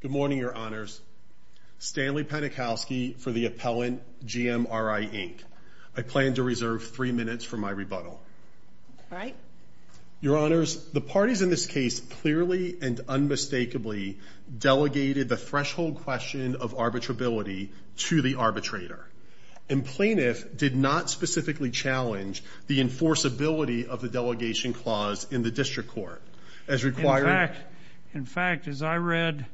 Good morning, Your Honors. Stanley Panikowski for the appellant, GMRI Inc. I plan to reserve three minutes for my rebuttal. All right. Your Honors, the parties in this case clearly and unmistakably delegated the threshold question of arbitrability to the arbitrator. And plaintiff did not specifically challenge the enforceability of the delegation clause in the district court, as required. In fact, as I read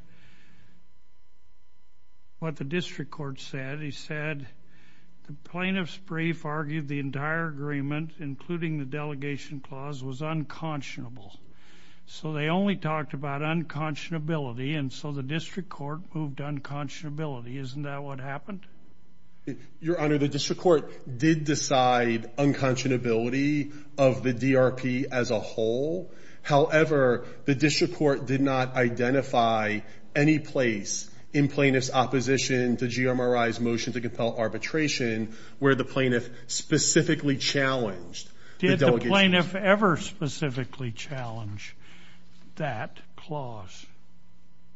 what the district court said, he said the plaintiff's brief argued the entire agreement, including the delegation clause, was unconscionable. So they only talked about unconscionability, and so the district court moved unconscionability. Isn't that what happened? Your Honor, the district court did decide unconscionability of the DRP as a whole. However, the district court did not identify any place in plaintiff's opposition to GMRI's motion to compel arbitration where the plaintiff specifically challenged the delegation. Did the plaintiff ever specifically challenge that clause?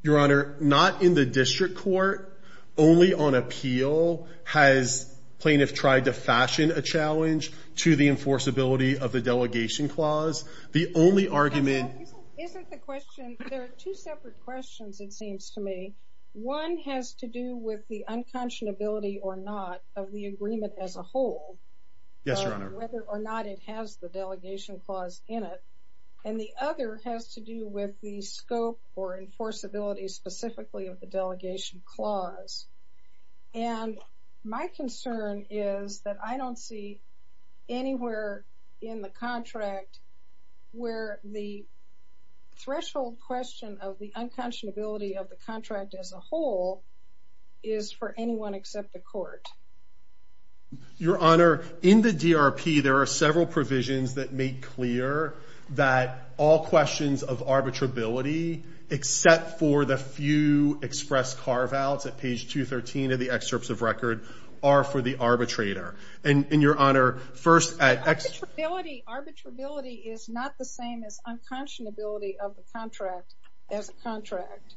Your Honor, not in the district court. Only on appeal has plaintiff tried to fashion a challenge to the enforceability of the delegation clause. The only argument— Isn't the question—there are two separate questions, it seems to me. One has to do with the unconscionability or not of the agreement as a whole, whether or not it has the delegation clause in it. And the other has to do with the scope or enforceability specifically of the delegation clause. And my concern is that I don't see anywhere in the contract where the threshold question of the unconscionability of the contract as a whole is for anyone except the court. Your Honor, in the DRP there are several provisions that make clear that all questions of arbitrability except for the few express carve-outs at page 213 of the excerpts of record are for the arbitrator. And, Your Honor, first at— Arbitrability is not the same as unconscionability of the contract as a contract.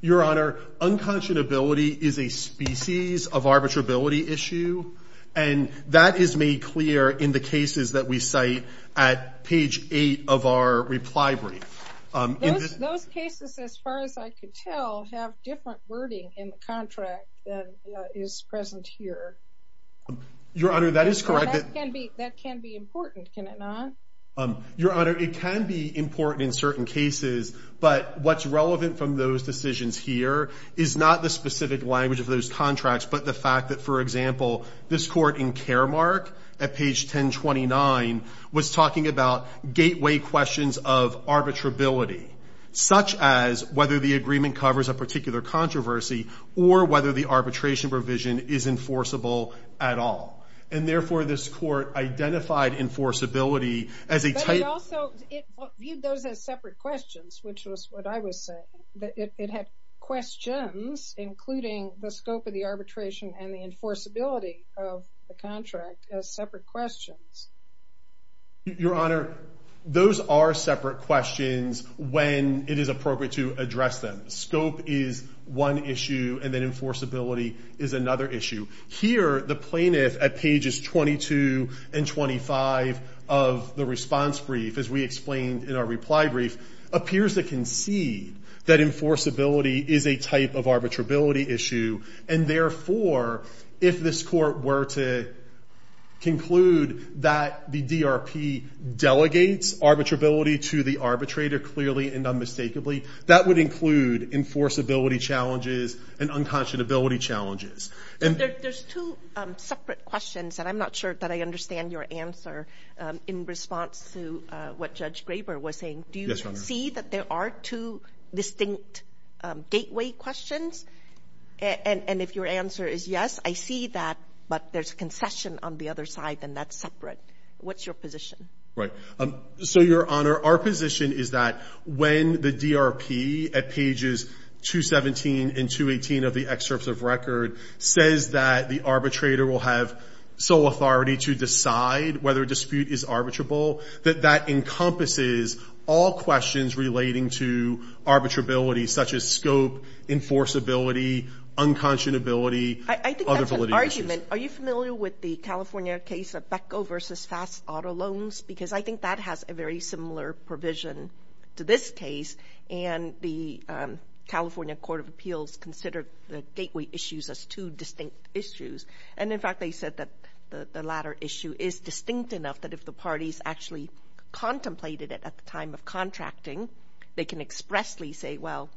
Your Honor, unconscionability is a species of arbitrability issue, and that is made clear in the cases that we cite at page 8 of our reply brief. Those cases, as far as I could tell, have different wording in the contract than is present here. Your Honor, that is correct. That can be important, can it not? Your Honor, it can be important in certain cases, but what's relevant from those decisions here is not the specific language of those contracts, but the fact that, for example, this court in Caremark at page 1029 was talking about gateway questions of arbitrability, such as whether the agreement covers a particular controversy or whether the arbitration provision is enforceable at all. And therefore, this court identified enforceability as a type— But it also viewed those as separate questions, which was what I was saying. It had questions, including the scope of the arbitration and the enforceability of the contract, as separate questions. Your Honor, those are separate questions when it is appropriate to address them. Scope is one issue, and then enforceability is another issue. Here, the plaintiff at pages 22 and 25 of the response brief, as we explained in our reply brief, appears to concede that enforceability is a type of arbitrability issue, and therefore, if this court were to conclude that the DRP delegates arbitrability to the arbitrator clearly and unmistakably, that would include enforceability challenges and unconscionability challenges. But there's two separate questions, and I'm not sure that I understand your answer in response to what Judge Graber was saying. Yes, Your Honor. Do you see that there are two distinct gateway questions? And if your answer is yes, I see that, but there's concession on the other side, and that's separate. What's your position? Right. So, Your Honor, our position is that when the DRP at pages 217 and 218 of the excerpts of record says that the arbitrator will have sole authority to decide whether a dispute is arbitrable, that that encompasses all questions relating to arbitrability, such as scope, enforceability, unconscionability, other validity issues. I think that's an argument. Are you familiar with the California case of Beko v. Fast Auto Loans? Because I think that has a very similar provision to this case, and the California Court of Appeals considered the gateway issues as two distinct issues. And in fact, they said that the latter issue is distinct enough that if the parties actually contemplated it at the time of contracting, they can expressly say, well,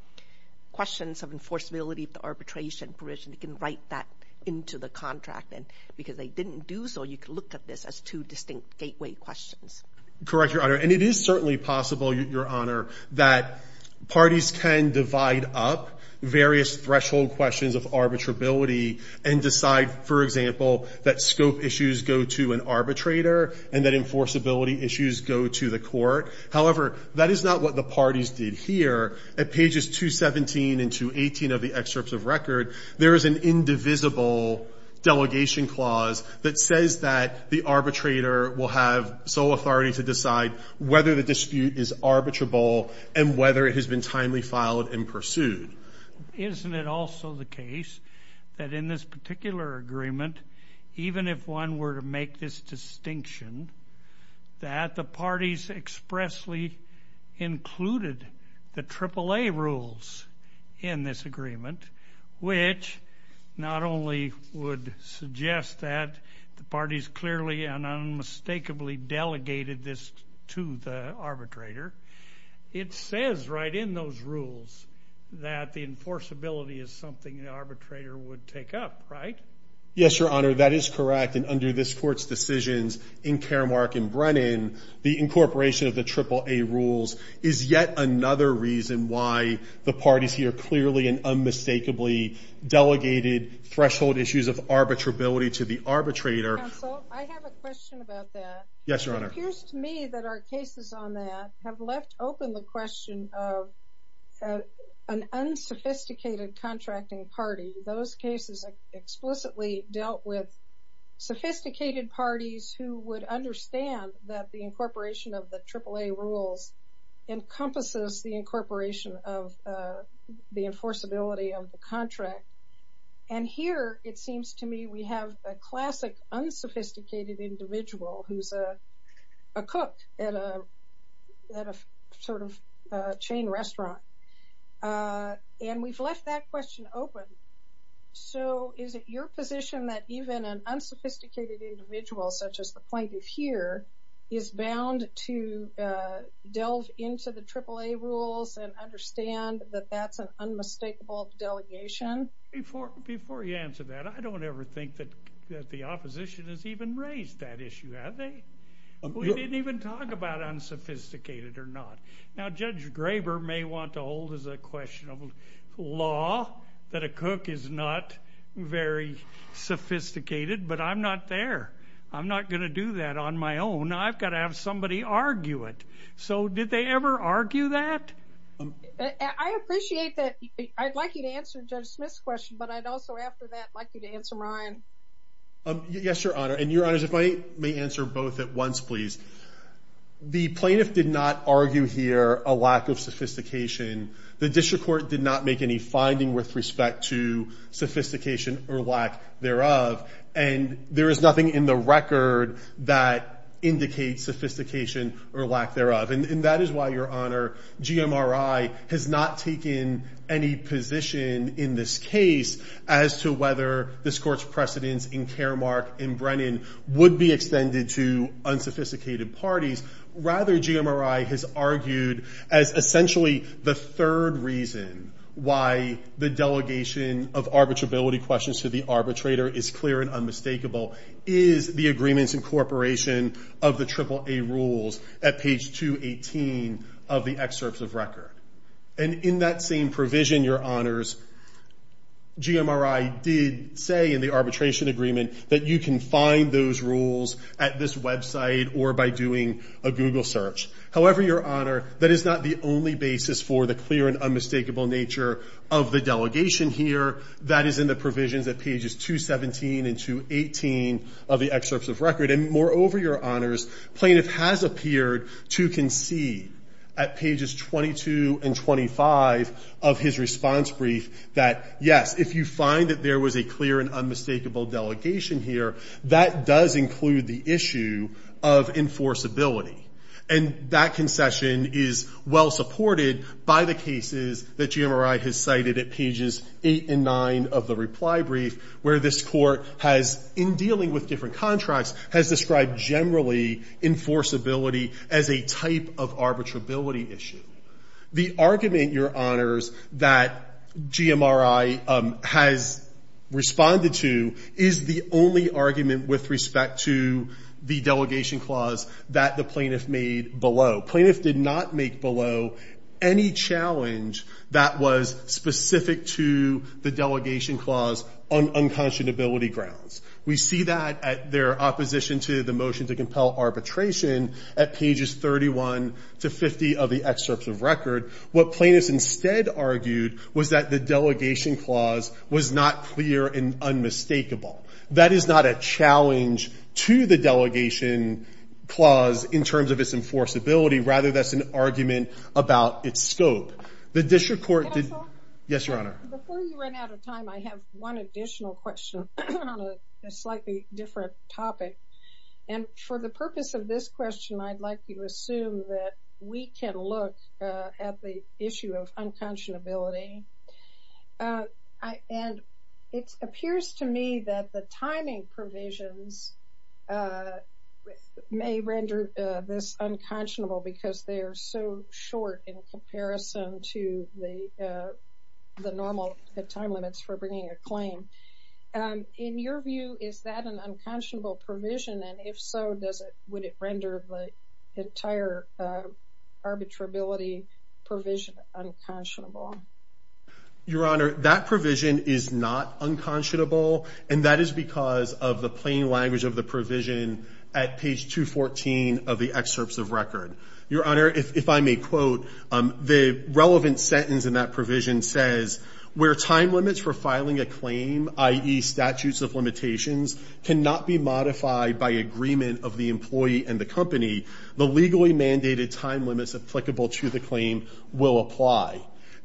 questions of enforceability of the arbitration provision, you can write that into the contract. And because they didn't do so, you can look at this as two distinct gateway questions. Correct, Your Honor. And it is certainly possible, Your Honor, that parties can divide up various threshold questions of arbitrability and decide, for example, that scope issues go to an arbitrator and that enforceability issues go to the court. However, that is not what the parties did here. At pages 217 and 218 of the excerpts of record, there is an indivisible delegation clause that says that the arbitrator will have sole authority to decide whether the dispute is arbitrable and whether it has been timely filed and pursued. Isn't it also the case that in this particular agreement, even if one were to make this distinction, that the parties expressly included the AAA rules in this agreement, which not only would suggest that the parties clearly and unmistakably delegated this to the arbitrator, it says right in those rules that the enforceability is something the arbitrator would take up, right? Yes, Your Honor, that is correct. And under this Court's decisions in Karamark and Brennan, the incorporation of the AAA rules is yet another reason why the parties here clearly and unmistakably delegated threshold issues of arbitrability to the arbitrator. Counsel, I have a question about that. Yes, Your Honor. It appears to me that our cases on that have left open the question of an unsophisticated contracting party. Those cases explicitly dealt with sophisticated parties who would understand that the incorporation of the AAA rules encompasses the incorporation of the enforceability of the contract. And here, it seems to me, we have a classic unsophisticated individual who's a cook at a sort of chain restaurant. And we've left that question open. So is it your position that even an unsophisticated individual, such as the plaintiff here, is bound to delve into the AAA rules and understand that that's an unmistakable delegation? Before you answer that, I don't ever think that the opposition has even raised that issue, have they? We didn't even talk about unsophisticated or not. Now, Judge Graber may want to hold as a question of law that a cook is not very sophisticated, but I'm not there. I'm not going to do that on my own. I've got to have somebody argue it. So did they ever argue that? I appreciate that. I'd like you to answer Judge Smith's question, but I'd also, after that, like you to answer mine. Yes, Your Honor. And Your Honors, if I may answer both at once, please. The plaintiff did not argue here a lack of sophistication. The district court did not make any finding with respect to sophistication or lack thereof. And there is nothing in the record that indicates sophistication or lack thereof. And that is why, Your Honor, GMRI has not taken any position in this case as to whether this court's precedents in Caremark and Brennan would be extended to unsophisticated parties. Rather, GMRI has argued as essentially the third reason why the delegation of arbitrability questions to the arbitrator is clear and unmistakable is the agreement's incorporation of the AAA rules at page 218 of the excerpts of record. And in that same provision, Your Honors, GMRI did say in the arbitration agreement that you can find those rules at this website or by doing a Google search. However, Your Honor, that is not the only basis for the clear and unmistakable nature of the delegation here. That is in the provisions at pages 217 and 218 of the excerpts of record. And moreover, Your Honors, plaintiff has appeared to concede at pages 22 and 25 of his response brief that, yes, if you find that there was a clear and unmistakable delegation here, that does include the issue of enforceability. And that concession is well supported by the cases that GMRI has cited at pages 8 and 9 of the reply brief, where this court has, in dealing with different contracts, has described generally enforceability as a type of arbitrability issue. The argument, Your Honors, that GMRI has responded to is the only argument with respect to the delegation clause that the plaintiff made below. Plaintiff did not make below any challenge that was specific to the delegation clause on unconscionability grounds. We see that at their opposition to the motion to compel arbitration at pages 31 to 50 of the excerpts of record. What plaintiffs instead argued was that the delegation clause was not clear and unmistakable. That is not a challenge to the delegation clause in terms of its enforceability. Rather, that's an argument about its scope. The district court did- Counsel? Yes, Your Honor. Before you run out of time, I have one additional question on a slightly different topic. And for the purpose of this question, I'd like you to assume that we can look at the issue of unconscionability. And it appears to me that the timing provisions may render this unconscionable because they are so short in comparison to the normal time limits for bringing a claim. In your view, is that an unconscionable provision? And if so, would it render the entire arbitrability provision unconscionable? Your Honor, that provision is not unconscionable. And that is because of the plain language of the provision at page 214 of the excerpts of record. Your Honor, if I may quote, the relevant sentence in that provision says, where time limits for filing a claim, i.e. statutes of limitations, cannot be modified by agreement of the employee and the company, the legally mandated time limits applicable to the claim will apply.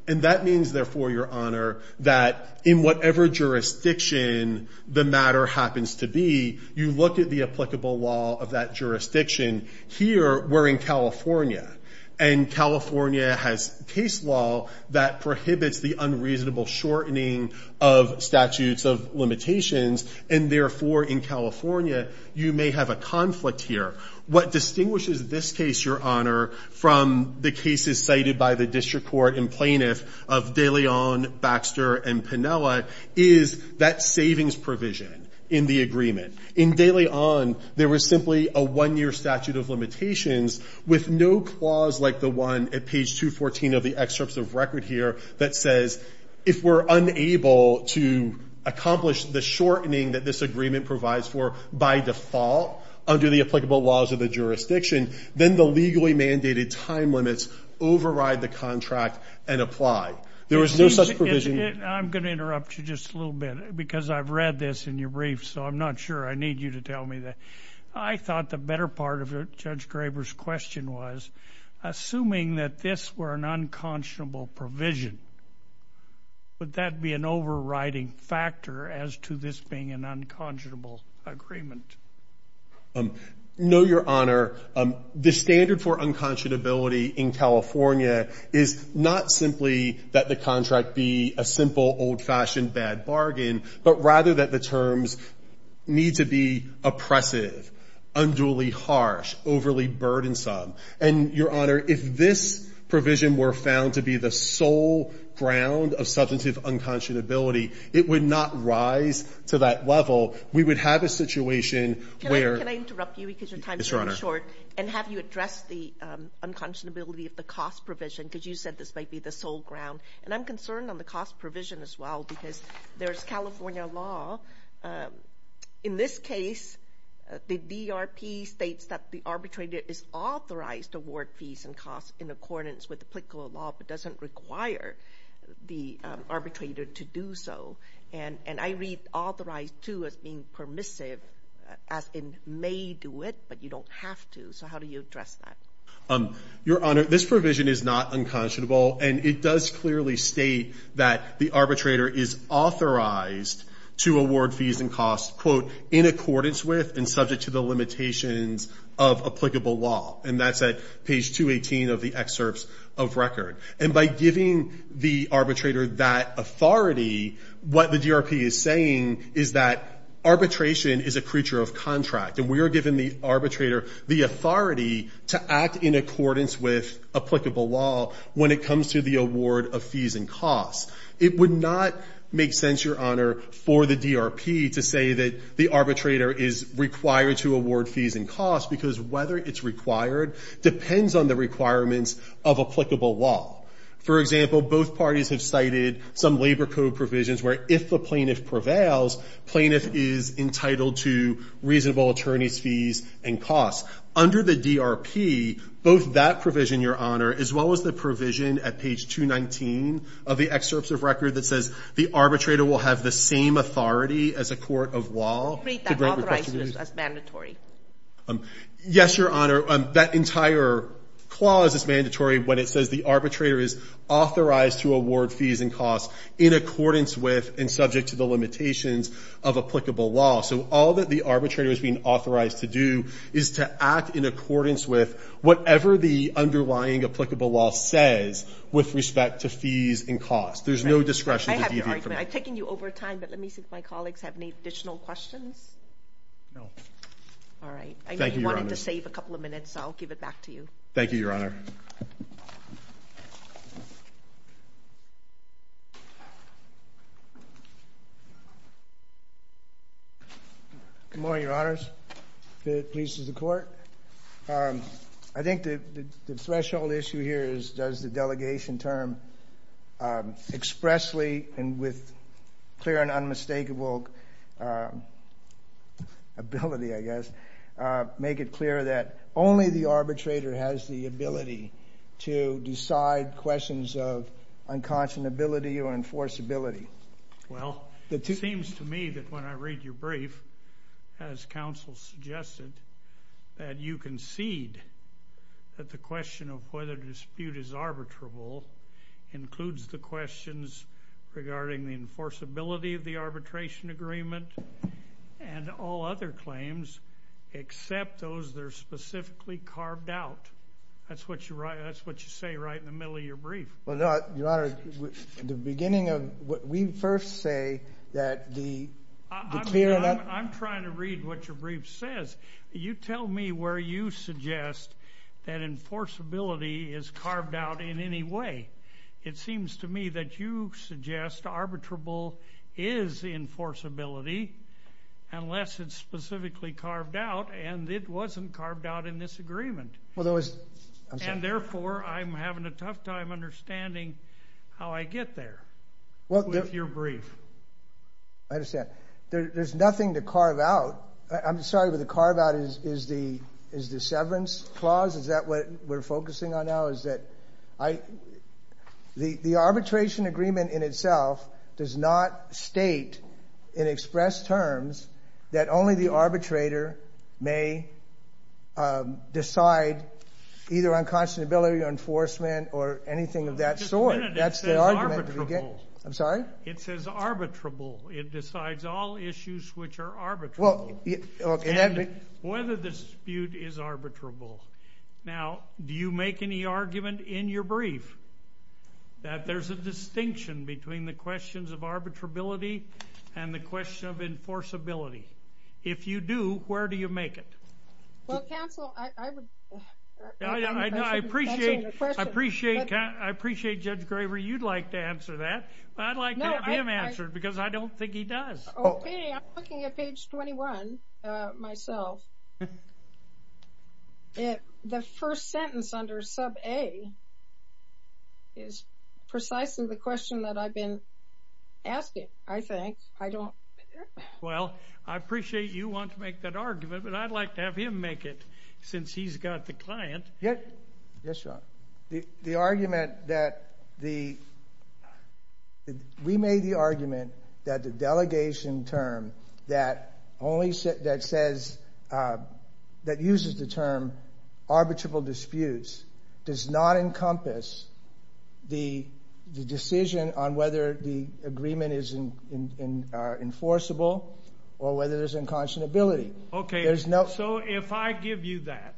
And that means, therefore, Your Honor, that in whatever jurisdiction the matter happens to be, you look at the applicable law of that jurisdiction. Here, we're in California. And California has case law that prohibits the unreasonable shortening of statutes of limitations. And, therefore, in California, you may have a conflict here. What distinguishes this case, Your Honor, from the cases cited by the district court and plaintiff of De Leon, Baxter, and Pinella, is that savings provision in the agreement. In De Leon, there was simply a one-year statute of limitations with no clause like the one at page 214 of the excerpts of record here that says, if we're unable to accomplish the shortening that this agreement provides for by default under the applicable laws of the jurisdiction, then the legally mandated time limits override the contract and apply. There was no such provision. I'm going to interrupt you just a little bit because I've read this in your brief, so I'm not sure. I need you to tell me that. I thought the better part of Judge Graber's question was, assuming that this were an unconscionable provision, would that be an overriding factor as to this being an unconscionable agreement? No, Your Honor. The standard for unconscionability in California is not simply that the contract be a simple, old-fashioned bad bargain, but rather that the terms need to be oppressive, unduly harsh, overly burdensome. And, Your Honor, if this provision were found to be the sole ground of substantive unconscionability, it would not rise to that level. We would have a situation where – And have you addressed the unconscionability of the cost provision? Because you said this might be the sole ground. And I'm concerned on the cost provision as well because there's California law. In this case, the DRP states that the arbitrator is authorized to award fees and costs in accordance with applicable law but doesn't require the arbitrator to do so. And I read authorized, too, as being permissive as in may do it, but you don't have to. So how do you address that? Your Honor, this provision is not unconscionable. And it does clearly state that the arbitrator is authorized to award fees and costs, quote, in accordance with and subject to the limitations of applicable law. And that's at page 218 of the excerpts of record. And by giving the arbitrator that authority, what the DRP is saying is that arbitration is a creature of contract, and we are giving the arbitrator the authority to act in accordance with applicable law when it comes to the award of fees and costs. It would not make sense, Your Honor, for the DRP to say that the arbitrator is required to award fees and costs because whether it's required depends on the requirements of applicable law. For example, both parties have cited some labor code provisions where if the plaintiff prevails, plaintiff is entitled to reasonable attorney's fees and costs. Under the DRP, both that provision, Your Honor, as well as the provision at page 219 of the excerpts of record that says the arbitrator will have the same authority as a court of law. You read that authorized as mandatory? Yes, Your Honor. That entire clause is mandatory when it says the arbitrator is authorized to award fees and costs in accordance with and subject to the limitations of applicable law. So all that the arbitrator is being authorized to do is to act in accordance with whatever the underlying applicable law says with respect to fees and costs. There's no discretion to deviate from that. I have an argument. I'm taking you over time, but let me see if my colleagues have any additional questions. No. All right. Thank you, Your Honor. I know you wanted to save a couple of minutes, so I'll give it back to you. Thank you, Your Honor. Good morning, Your Honors. The police and the court. I think the threshold issue here is does the delegation term expressly and with clear and unmistakable ability, I guess, make it clear that only the arbitrator has the ability to decide questions of unconscionability or enforceability? Well, it seems to me that when I read your brief, as counsel suggested, that you concede that the question of whether the dispute is arbitrable includes the questions regarding the enforceability of the arbitration agreement and all other claims except those that are specifically carved out. That's what you say right in the middle of your brief. Well, no, Your Honor. In the beginning of what we first say that the clear and un... I'm trying to read what your brief says. You tell me where you suggest that enforceability is carved out in any way. It seems to me that you suggest arbitrable is enforceability unless it's specifically carved out and it wasn't carved out in this agreement. And therefore, I'm having a tough time understanding how I get there with your brief. I understand. There's nothing to carve out. I'm sorry, but the carve out is the severance clause? Is that what we're focusing on now? The arbitration agreement in itself does not state in expressed terms that only the arbitrator may decide either unconscionability or enforcement or anything of that sort. That's the argument. I'm sorry? It says arbitrable. It decides all issues which are arbitrable and whether the dispute is arbitrable. Now, do you make any argument in your brief that there's a distinction between the questions of arbitrability and the question of enforceability? If you do, where do you make it? Well, counsel, I would... I appreciate Judge Graver, you'd like to answer that. I'd like to have him answer it because I don't think he does. Okay, I'm looking at page 21 myself. The first sentence under sub A is precisely the question that I've been asking, I think. I don't... Well, I appreciate you want to make that argument, but I'd like to have him make it since he's got the client. Yes, Your Honor. The argument that the... We made the argument that the delegation term that uses the term arbitrable disputes does not encompass the decision on whether the agreement is enforceable or whether there's unconscionability. Okay, so if I give you that,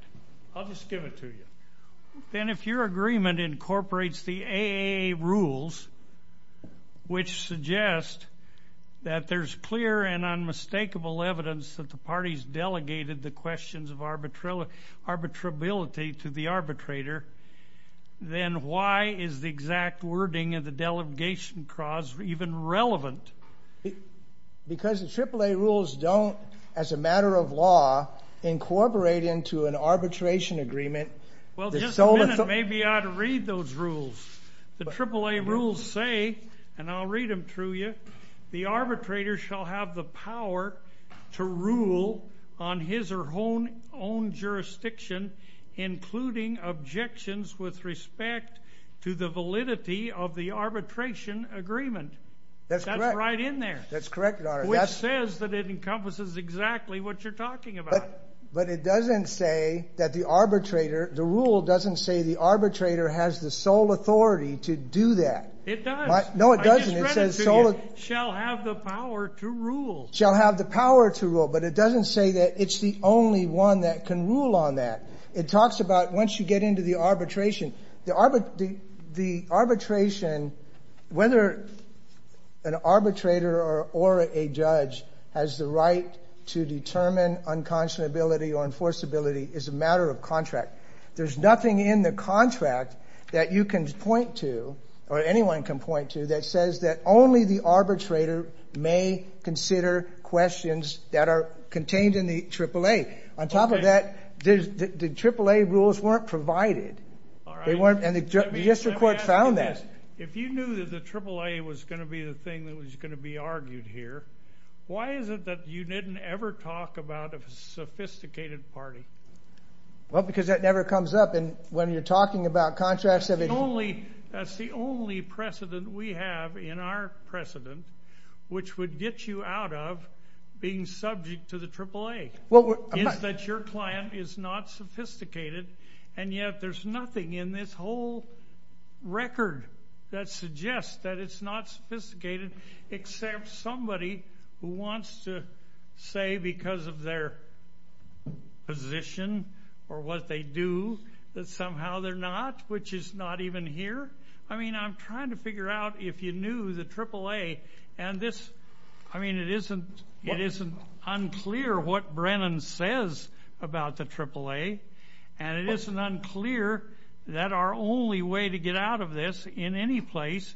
I'll just give it to you. Then if your agreement incorporates the AAA rules, which suggest that there's clear and unmistakable evidence that the parties delegated the questions of arbitrability to the arbitrator, then why is the exact wording of the delegation clause even relevant? Because the AAA rules don't, as a matter of law, incorporate into an arbitration agreement... Well, just a minute. Maybe I ought to read those rules. The AAA rules say, and I'll read them through you, the arbitrator shall have the power to rule on his or her own jurisdiction, including objections with respect to the validity of the arbitration agreement. That's correct. That's right in there. That's correct, Your Honor. Which says that it encompasses exactly what you're talking about. But it doesn't say that the arbitrator, the rule doesn't say the arbitrator has the sole authority to do that. It does. No, it doesn't. I just read it to you. It says, shall have the power to rule. Shall have the power to rule. But it doesn't say that it's the only one that can rule on that. It talks about, once you get into the arbitration, the arbitration, whether an arbitrator or a judge has the right to determine unconscionability or enforceability is a matter of contract. There's nothing in the contract that you can point to, or anyone can point to, that says that only the arbitrator may consider questions that are contained in the AAA. On top of that, the AAA rules weren't provided. All right. And the district court found that. Let me ask you this. If you knew that the AAA was going to be the thing that was going to be argued here, why is it that you didn't ever talk about a sophisticated party? Well, because that never comes up when you're talking about contracts. That's the only precedent we have in our precedent which would get you out of being subject to the AAA. It's that your client is not sophisticated, and yet there's nothing in this whole record that suggests that it's not sophisticated except somebody who wants to say because of their position or what they do that somehow they're not, which is not even here. I mean, I'm trying to figure out if you knew the AAA. I mean, it isn't unclear what Brennan says about the AAA, and it isn't unclear that our only way to get out of this in any place,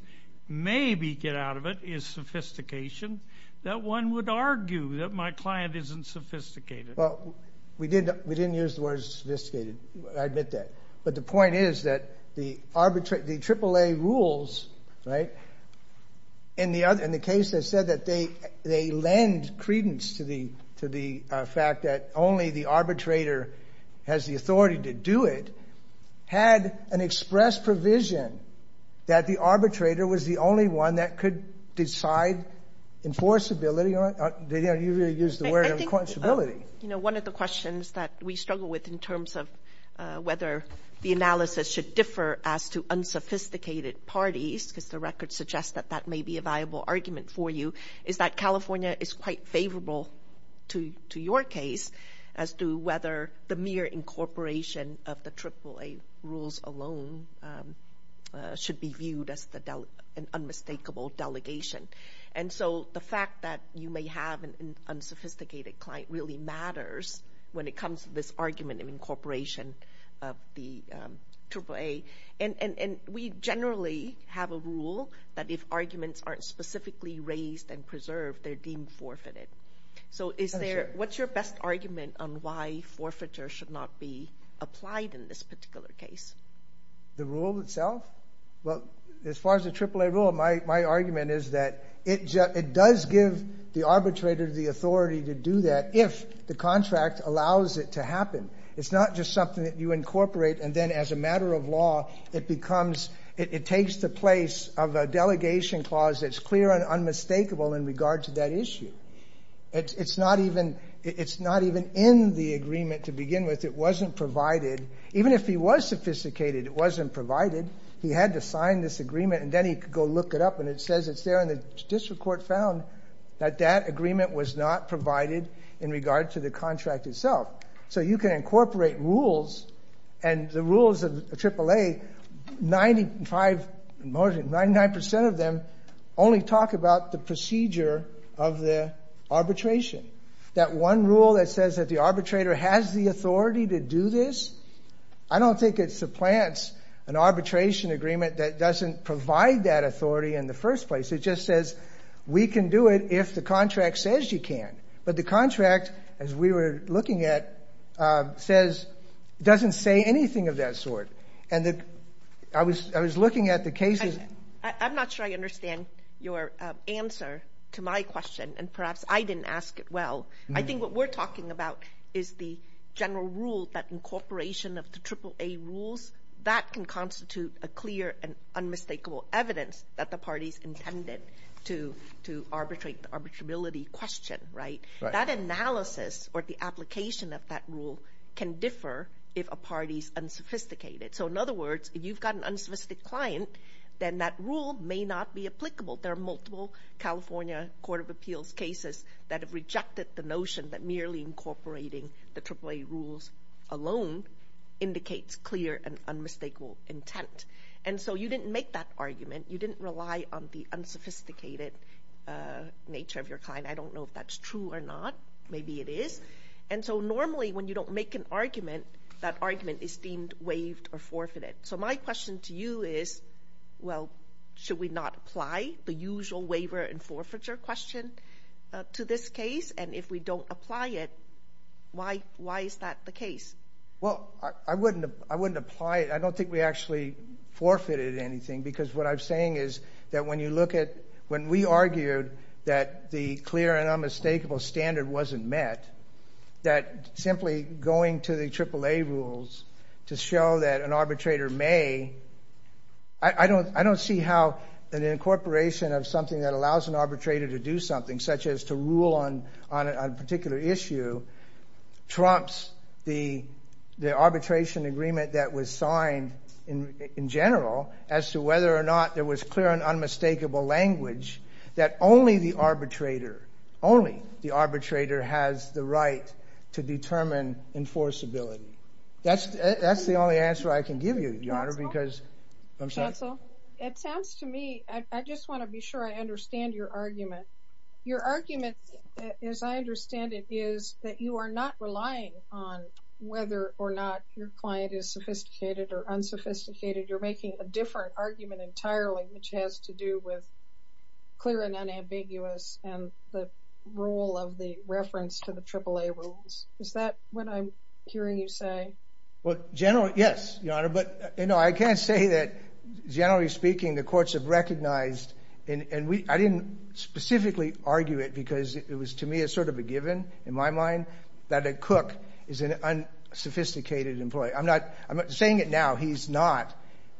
maybe get out of it, is sophistication, that one would argue that my client isn't sophisticated. Well, we didn't use the words sophisticated. I admit that. But the point is that the AAA rules, right, in the case that said that they lend credence to the fact that only the arbitrator has the authority to do it, had an express provision that the arbitrator was the only one that could decide enforceability. You really used the word enforceability. You know, one of the questions that we struggle with in terms of whether the analysis should differ as to unsophisticated parties, because the record suggests that that may be a viable argument for you, is that California is quite favorable to your case as to whether the mere incorporation of the AAA rules alone should be viewed as an unmistakable delegation. And so the fact that you may have an unsophisticated client really matters when it comes to this argument of incorporation of the AAA. And we generally have a rule that if arguments aren't specifically raised and preserved, they're deemed forfeited. So what's your best argument on why forfeiture should not be applied in this particular case? The rule itself? Well, as far as the AAA rule, my argument is that it does give the arbitrator the authority to do that if the contract allows it to happen. It's not just something that you incorporate and then as a matter of law, it takes the place of a delegation clause that's clear and unmistakable in regard to that issue. It's not even in the agreement to begin with. It wasn't provided. Even if he was sophisticated, it wasn't provided. He had to sign this agreement and then he could go look it up and it says it's there and the district court found that that agreement was not provided in regard to the contract itself. So you can incorporate rules and the rules of AAA, 95% of them only talk about the procedure of the arbitration. That one rule that says that the arbitrator has the authority to do this, I don't think it supplants an arbitration agreement that doesn't provide that authority in the first place. It just says we can do it if the contract says you can. But the contract, as we were looking at, doesn't say anything of that sort. And I was looking at the cases. I'm not sure I understand your answer to my question, and perhaps I didn't ask it well. I think what we're talking about is the general rule that incorporation of the AAA rules, that can constitute a clear and unmistakable evidence that the party's intended to arbitrate the arbitrability question. That analysis or the application of that rule can differ if a party's unsophisticated. So, in other words, if you've got an unsophisticated client, then that rule may not be applicable. There are multiple California Court of Appeals cases that have rejected the notion that merely incorporating the AAA rules alone indicates clear and unmistakable intent. And so you didn't make that argument. You didn't rely on the unsophisticated nature of your client. I don't know if that's true or not. Maybe it is. And so normally when you don't make an argument, that argument is deemed waived or forfeited. So my question to you is, well, should we not apply the usual waiver and forfeiture question to this case? And if we don't apply it, why is that the case? Well, I wouldn't apply it. I don't think we actually forfeited anything. Because what I'm saying is that when you look at when we argued that the clear and unmistakable standard wasn't met, that simply going to the AAA rules to show that an arbitrator may, I don't see how an incorporation of something that allows an arbitrator to do something, such as to rule on a particular issue, trumps the arbitration agreement that was signed in general, as to whether or not there was clear and unmistakable language that only the arbitrator, only the arbitrator has the right to determine enforceability. That's the only answer I can give you, Your Honor. Counsel, it sounds to me, I just want to be sure I understand your argument. Your argument, as I understand it, is that you are not relying on whether or not your client is sophisticated or unsophisticated. You're making a different argument entirely, which has to do with clear and unambiguous and the role of the reference to the AAA rules. Is that what I'm hearing you say? Well, generally, yes, Your Honor, but I can't say that, generally speaking, the courts have recognized, and I didn't specifically argue it because it was to me a sort of a given in my mind, that a cook is an unsophisticated employee. I'm not saying it now. He's not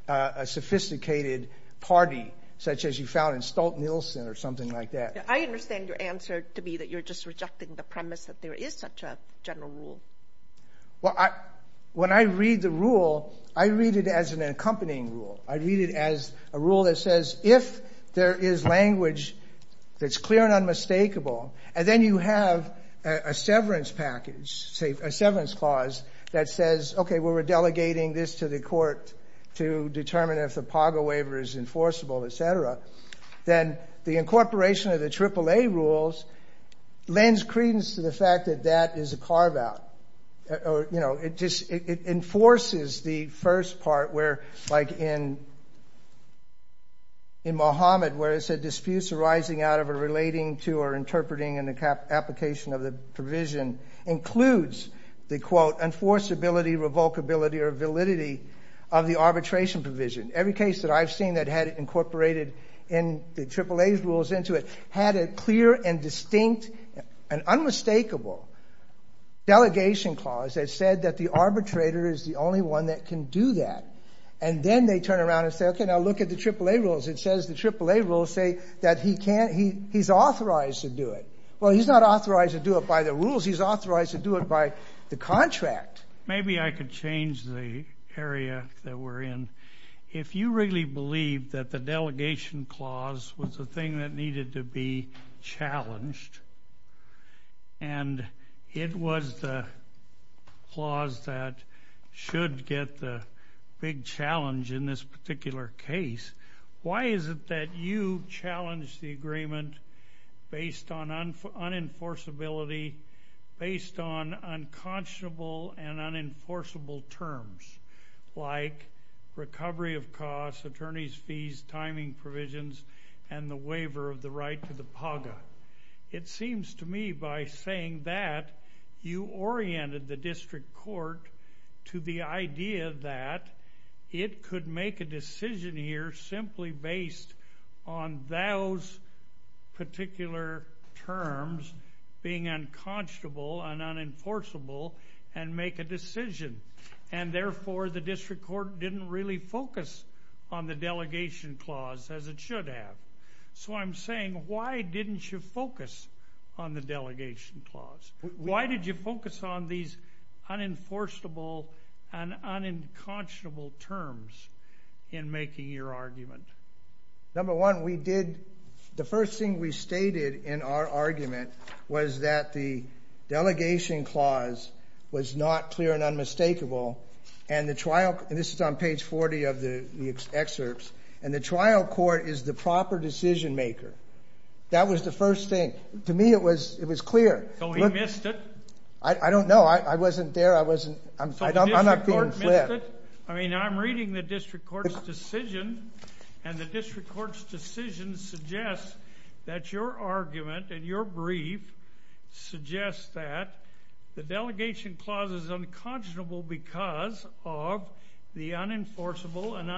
a sophisticated party, such as you found in Stolt-Nielsen or something like that. I understand your answer to be that you're just rejecting the premise that there is such a general rule. Well, when I read the rule, I read it as an accompanying rule. I read it as a rule that says if there is language that's clear and unmistakable, and then you have a severance package, a severance clause that says, okay, we're delegating this to the court to determine if the PAGA waiver is enforceable, et cetera, then the incorporation of the AAA rules lends credence to the fact that that is a carve-out. You know, it just enforces the first part where, like in Mohammed, where it said disputes arising out of a relating to or interpreting an application of the provision includes the, quote, enforceability, revocability, or validity of the arbitration provision. Every case that I've seen that had it incorporated in the AAA rules into it had a clear and distinct and unmistakable delegation clause that said that the arbitrator is the only one that can do that. And then they turn around and say, okay, now look at the AAA rules. It says the AAA rules say that he can't he's authorized to do it. Well, he's not authorized to do it by the rules. He's authorized to do it by the contract. But maybe I could change the area that we're in. If you really believe that the delegation clause was the thing that needed to be challenged and it was the clause that should get the big challenge in this particular case, why is it that you challenged the agreement based on unenforceability, based on unconscionable and unenforceable terms like recovery of costs, attorney's fees, timing provisions, and the waiver of the right to the PAGA? It seems to me by saying that you oriented the district court to the idea that it could make a decision here simply based on those particular terms being unconscionable and unenforceable and make a decision, and therefore the district court didn't really focus on the delegation clause as it should have. So I'm saying why didn't you focus on the delegation clause? Why did you focus on these unenforceable and unconscionable terms in making your argument? Number one, the first thing we stated in our argument was that the delegation clause was not clear and unmistakable, and this is on page 40 of the excerpts, and the trial court is the proper decision maker. That was the first thing. To me it was clear. So he missed it? I don't know. I wasn't there. I'm not being flipped. So the district court missed it? I mean I'm reading the district court's decision, and the district court's decision suggests that your argument in your brief suggests that the delegation clause is unconscionable because of the unenforceable and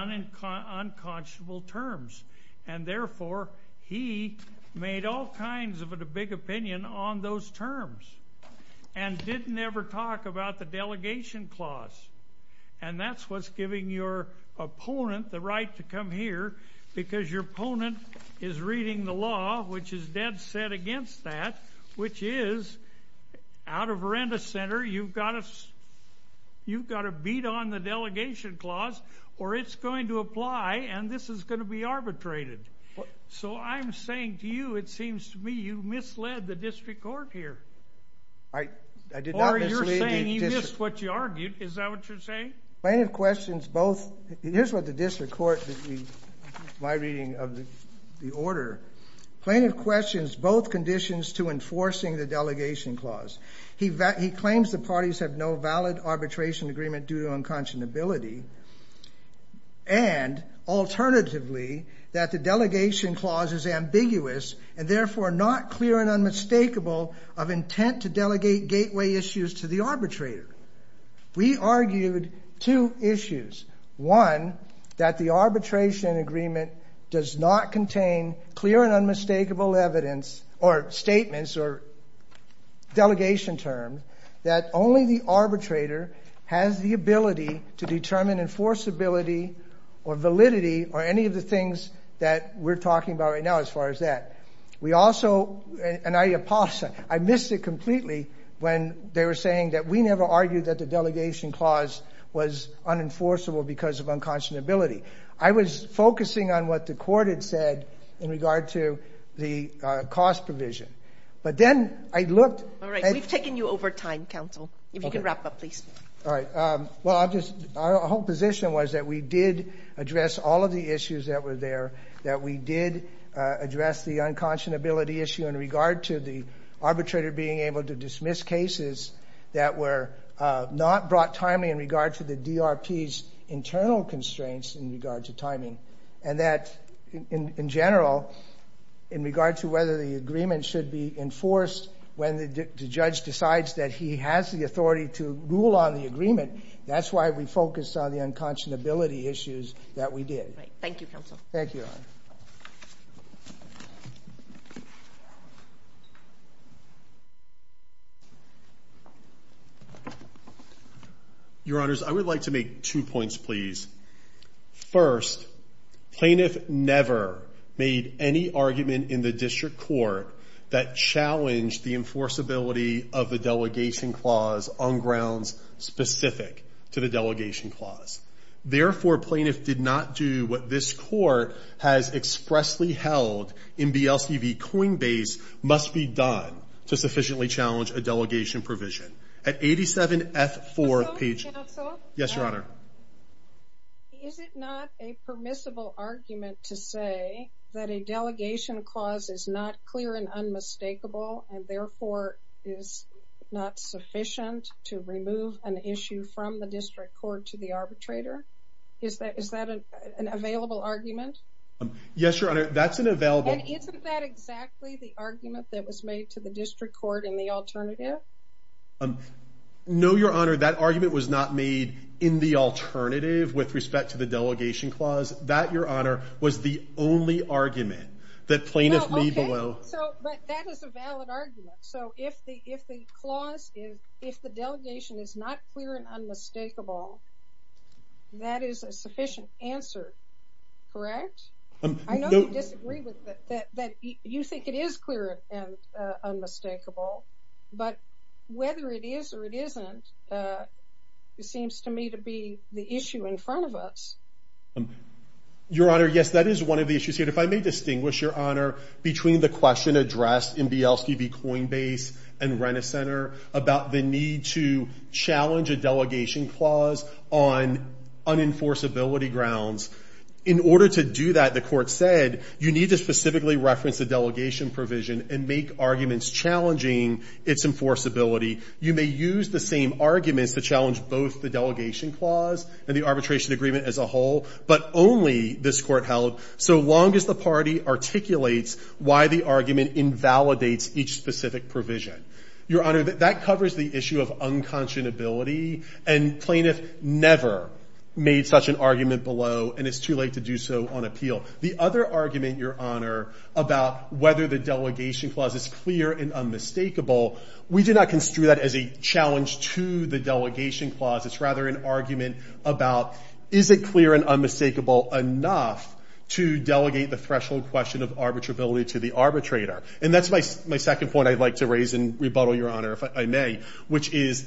unconscionable terms, and therefore he made all kinds of a big opinion on those terms and didn't ever talk about the delegation clause, and that's what's giving your opponent the right to come here because your opponent is reading the law, which is dead set against that, which is out of Veranda Center you've got to beat on the delegation clause or it's going to apply and this is going to be arbitrated. So I'm saying to you it seems to me you misled the district court here. I did not mislead the district. Or you're saying he missed what you argued. Is that what you're saying? Plaintiff questions both. Here's what the district court, my reading of the order. Plaintiff questions both conditions to enforcing the delegation clause. He claims the parties have no valid arbitration agreement due to unconscionability and alternatively that the delegation clause is ambiguous and therefore not clear and unmistakable of intent to delegate gateway issues to the arbitrator. We argued two issues. One, that the arbitration agreement does not contain clear and unmistakable evidence or statements or delegation terms that only the arbitrator has the ability to determine enforceability or validity or any of the things that we're talking about right now as far as that. We also, and I apologize, I missed it completely when they were saying that we never argued that the delegation clause was unenforceable because of unconscionability. I was focusing on what the court had said in regard to the cost provision. But then I looked. All right. We've taken you over time, counsel. If you can wrap up, please. All right. Well, our whole position was that we did address all of the issues that were there, that we did address the unconscionability issue in regard to the arbitrator being able to dismiss cases that were not brought timely in regard to the DRP's internal constraints in regard to timing. And that, in general, in regard to whether the agreement should be enforced when the judge decides that he has the authority to rule on the agreement, that's why we focused on the unconscionability issues that we did. Thank you, counsel. Thank you, Your Honor. Your Honors, I would like to make two points, please. First, plaintiff never made any argument in the district court that challenged the enforceability of the delegation clause on grounds specific to the delegation clause. Therefore, plaintiff did not do what this court has expressly held in BLCB coinbase must be done to sufficiently challenge a delegation provision. At 87F4 page... Yes, Your Honor. Is it not a permissible argument to say that a delegation clause is not clear and unmistakable and therefore is not sufficient to remove an issue from the district court to the arbitrator? Is that an available argument? Yes, Your Honor, that's an available... And isn't that exactly the argument that was made to the district court in the alternative? No, Your Honor, that argument was not made in the alternative with respect to the delegation clause. That, Your Honor, was the only argument that plaintiff made below... Okay, but that is a valid argument. So if the clause, if the delegation is not clear and unmistakable, that is a sufficient answer, correct? I know you disagree with that, that you think it is clear and unmistakable, but whether it is or it isn't, it seems to me to be the issue in front of us. Your Honor, yes, that is one of the issues here. If I may distinguish, Your Honor, between the question addressed in BLCB coinbase and Rennes Center about the need to challenge a delegation clause on unenforceability grounds. In order to do that, the court said, you need to specifically reference the delegation provision and make arguments challenging its enforceability. You may use the same arguments to challenge both the delegation clause and the arbitration agreement as a whole, but only, this court held, so long as the party articulates why the argument invalidates each specific provision. Your Honor, that covers the issue of unconscionability, and plaintiff never made such an argument below, and it's too late to do so on appeal. The other argument, Your Honor, about whether the delegation clause is clear and unmistakable, we do not construe that as a challenge to the delegation clause. It's rather an argument about, is it clear and unmistakable enough to delegate the threshold question of arbitrability to the arbitrator? And that's my second point I'd like to raise and rebuttal, Your Honor, if I may, which is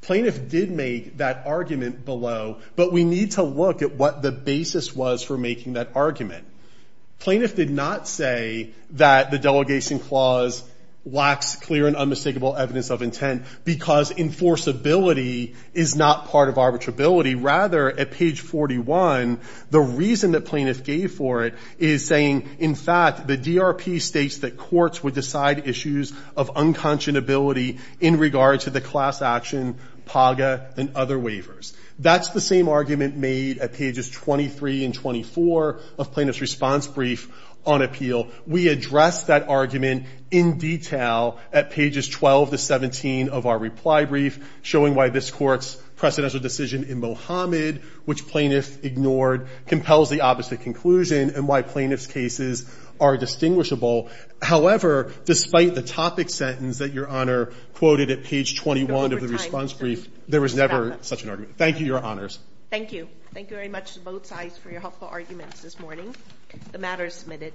plaintiff did make that argument below, but we need to look at what the basis was for making that argument. Plaintiff did not say that the delegation clause lacks clear and unmistakable evidence of intent because enforceability is not part of arbitrability. Rather, at page 41, the reason that plaintiff gave for it is saying, in fact, the DRP states that courts would decide issues of unconscionability in regard to the class action, PAGA, and other waivers. That's the same argument made at pages 23 and 24 of plaintiff's response brief on appeal. We address that argument in detail at pages 12 to 17 of our reply brief, showing why this court's precedential decision in Mohammed, which plaintiff ignored, compels the opposite conclusion and why plaintiff's cases are distinguishable. However, despite the topic sentence that Your Honor quoted at page 21 of the response brief, there was never such an argument. Thank you, Your Honors. Thank you. Thank you very much to both sides for your helpful arguments this morning. The matter is submitted.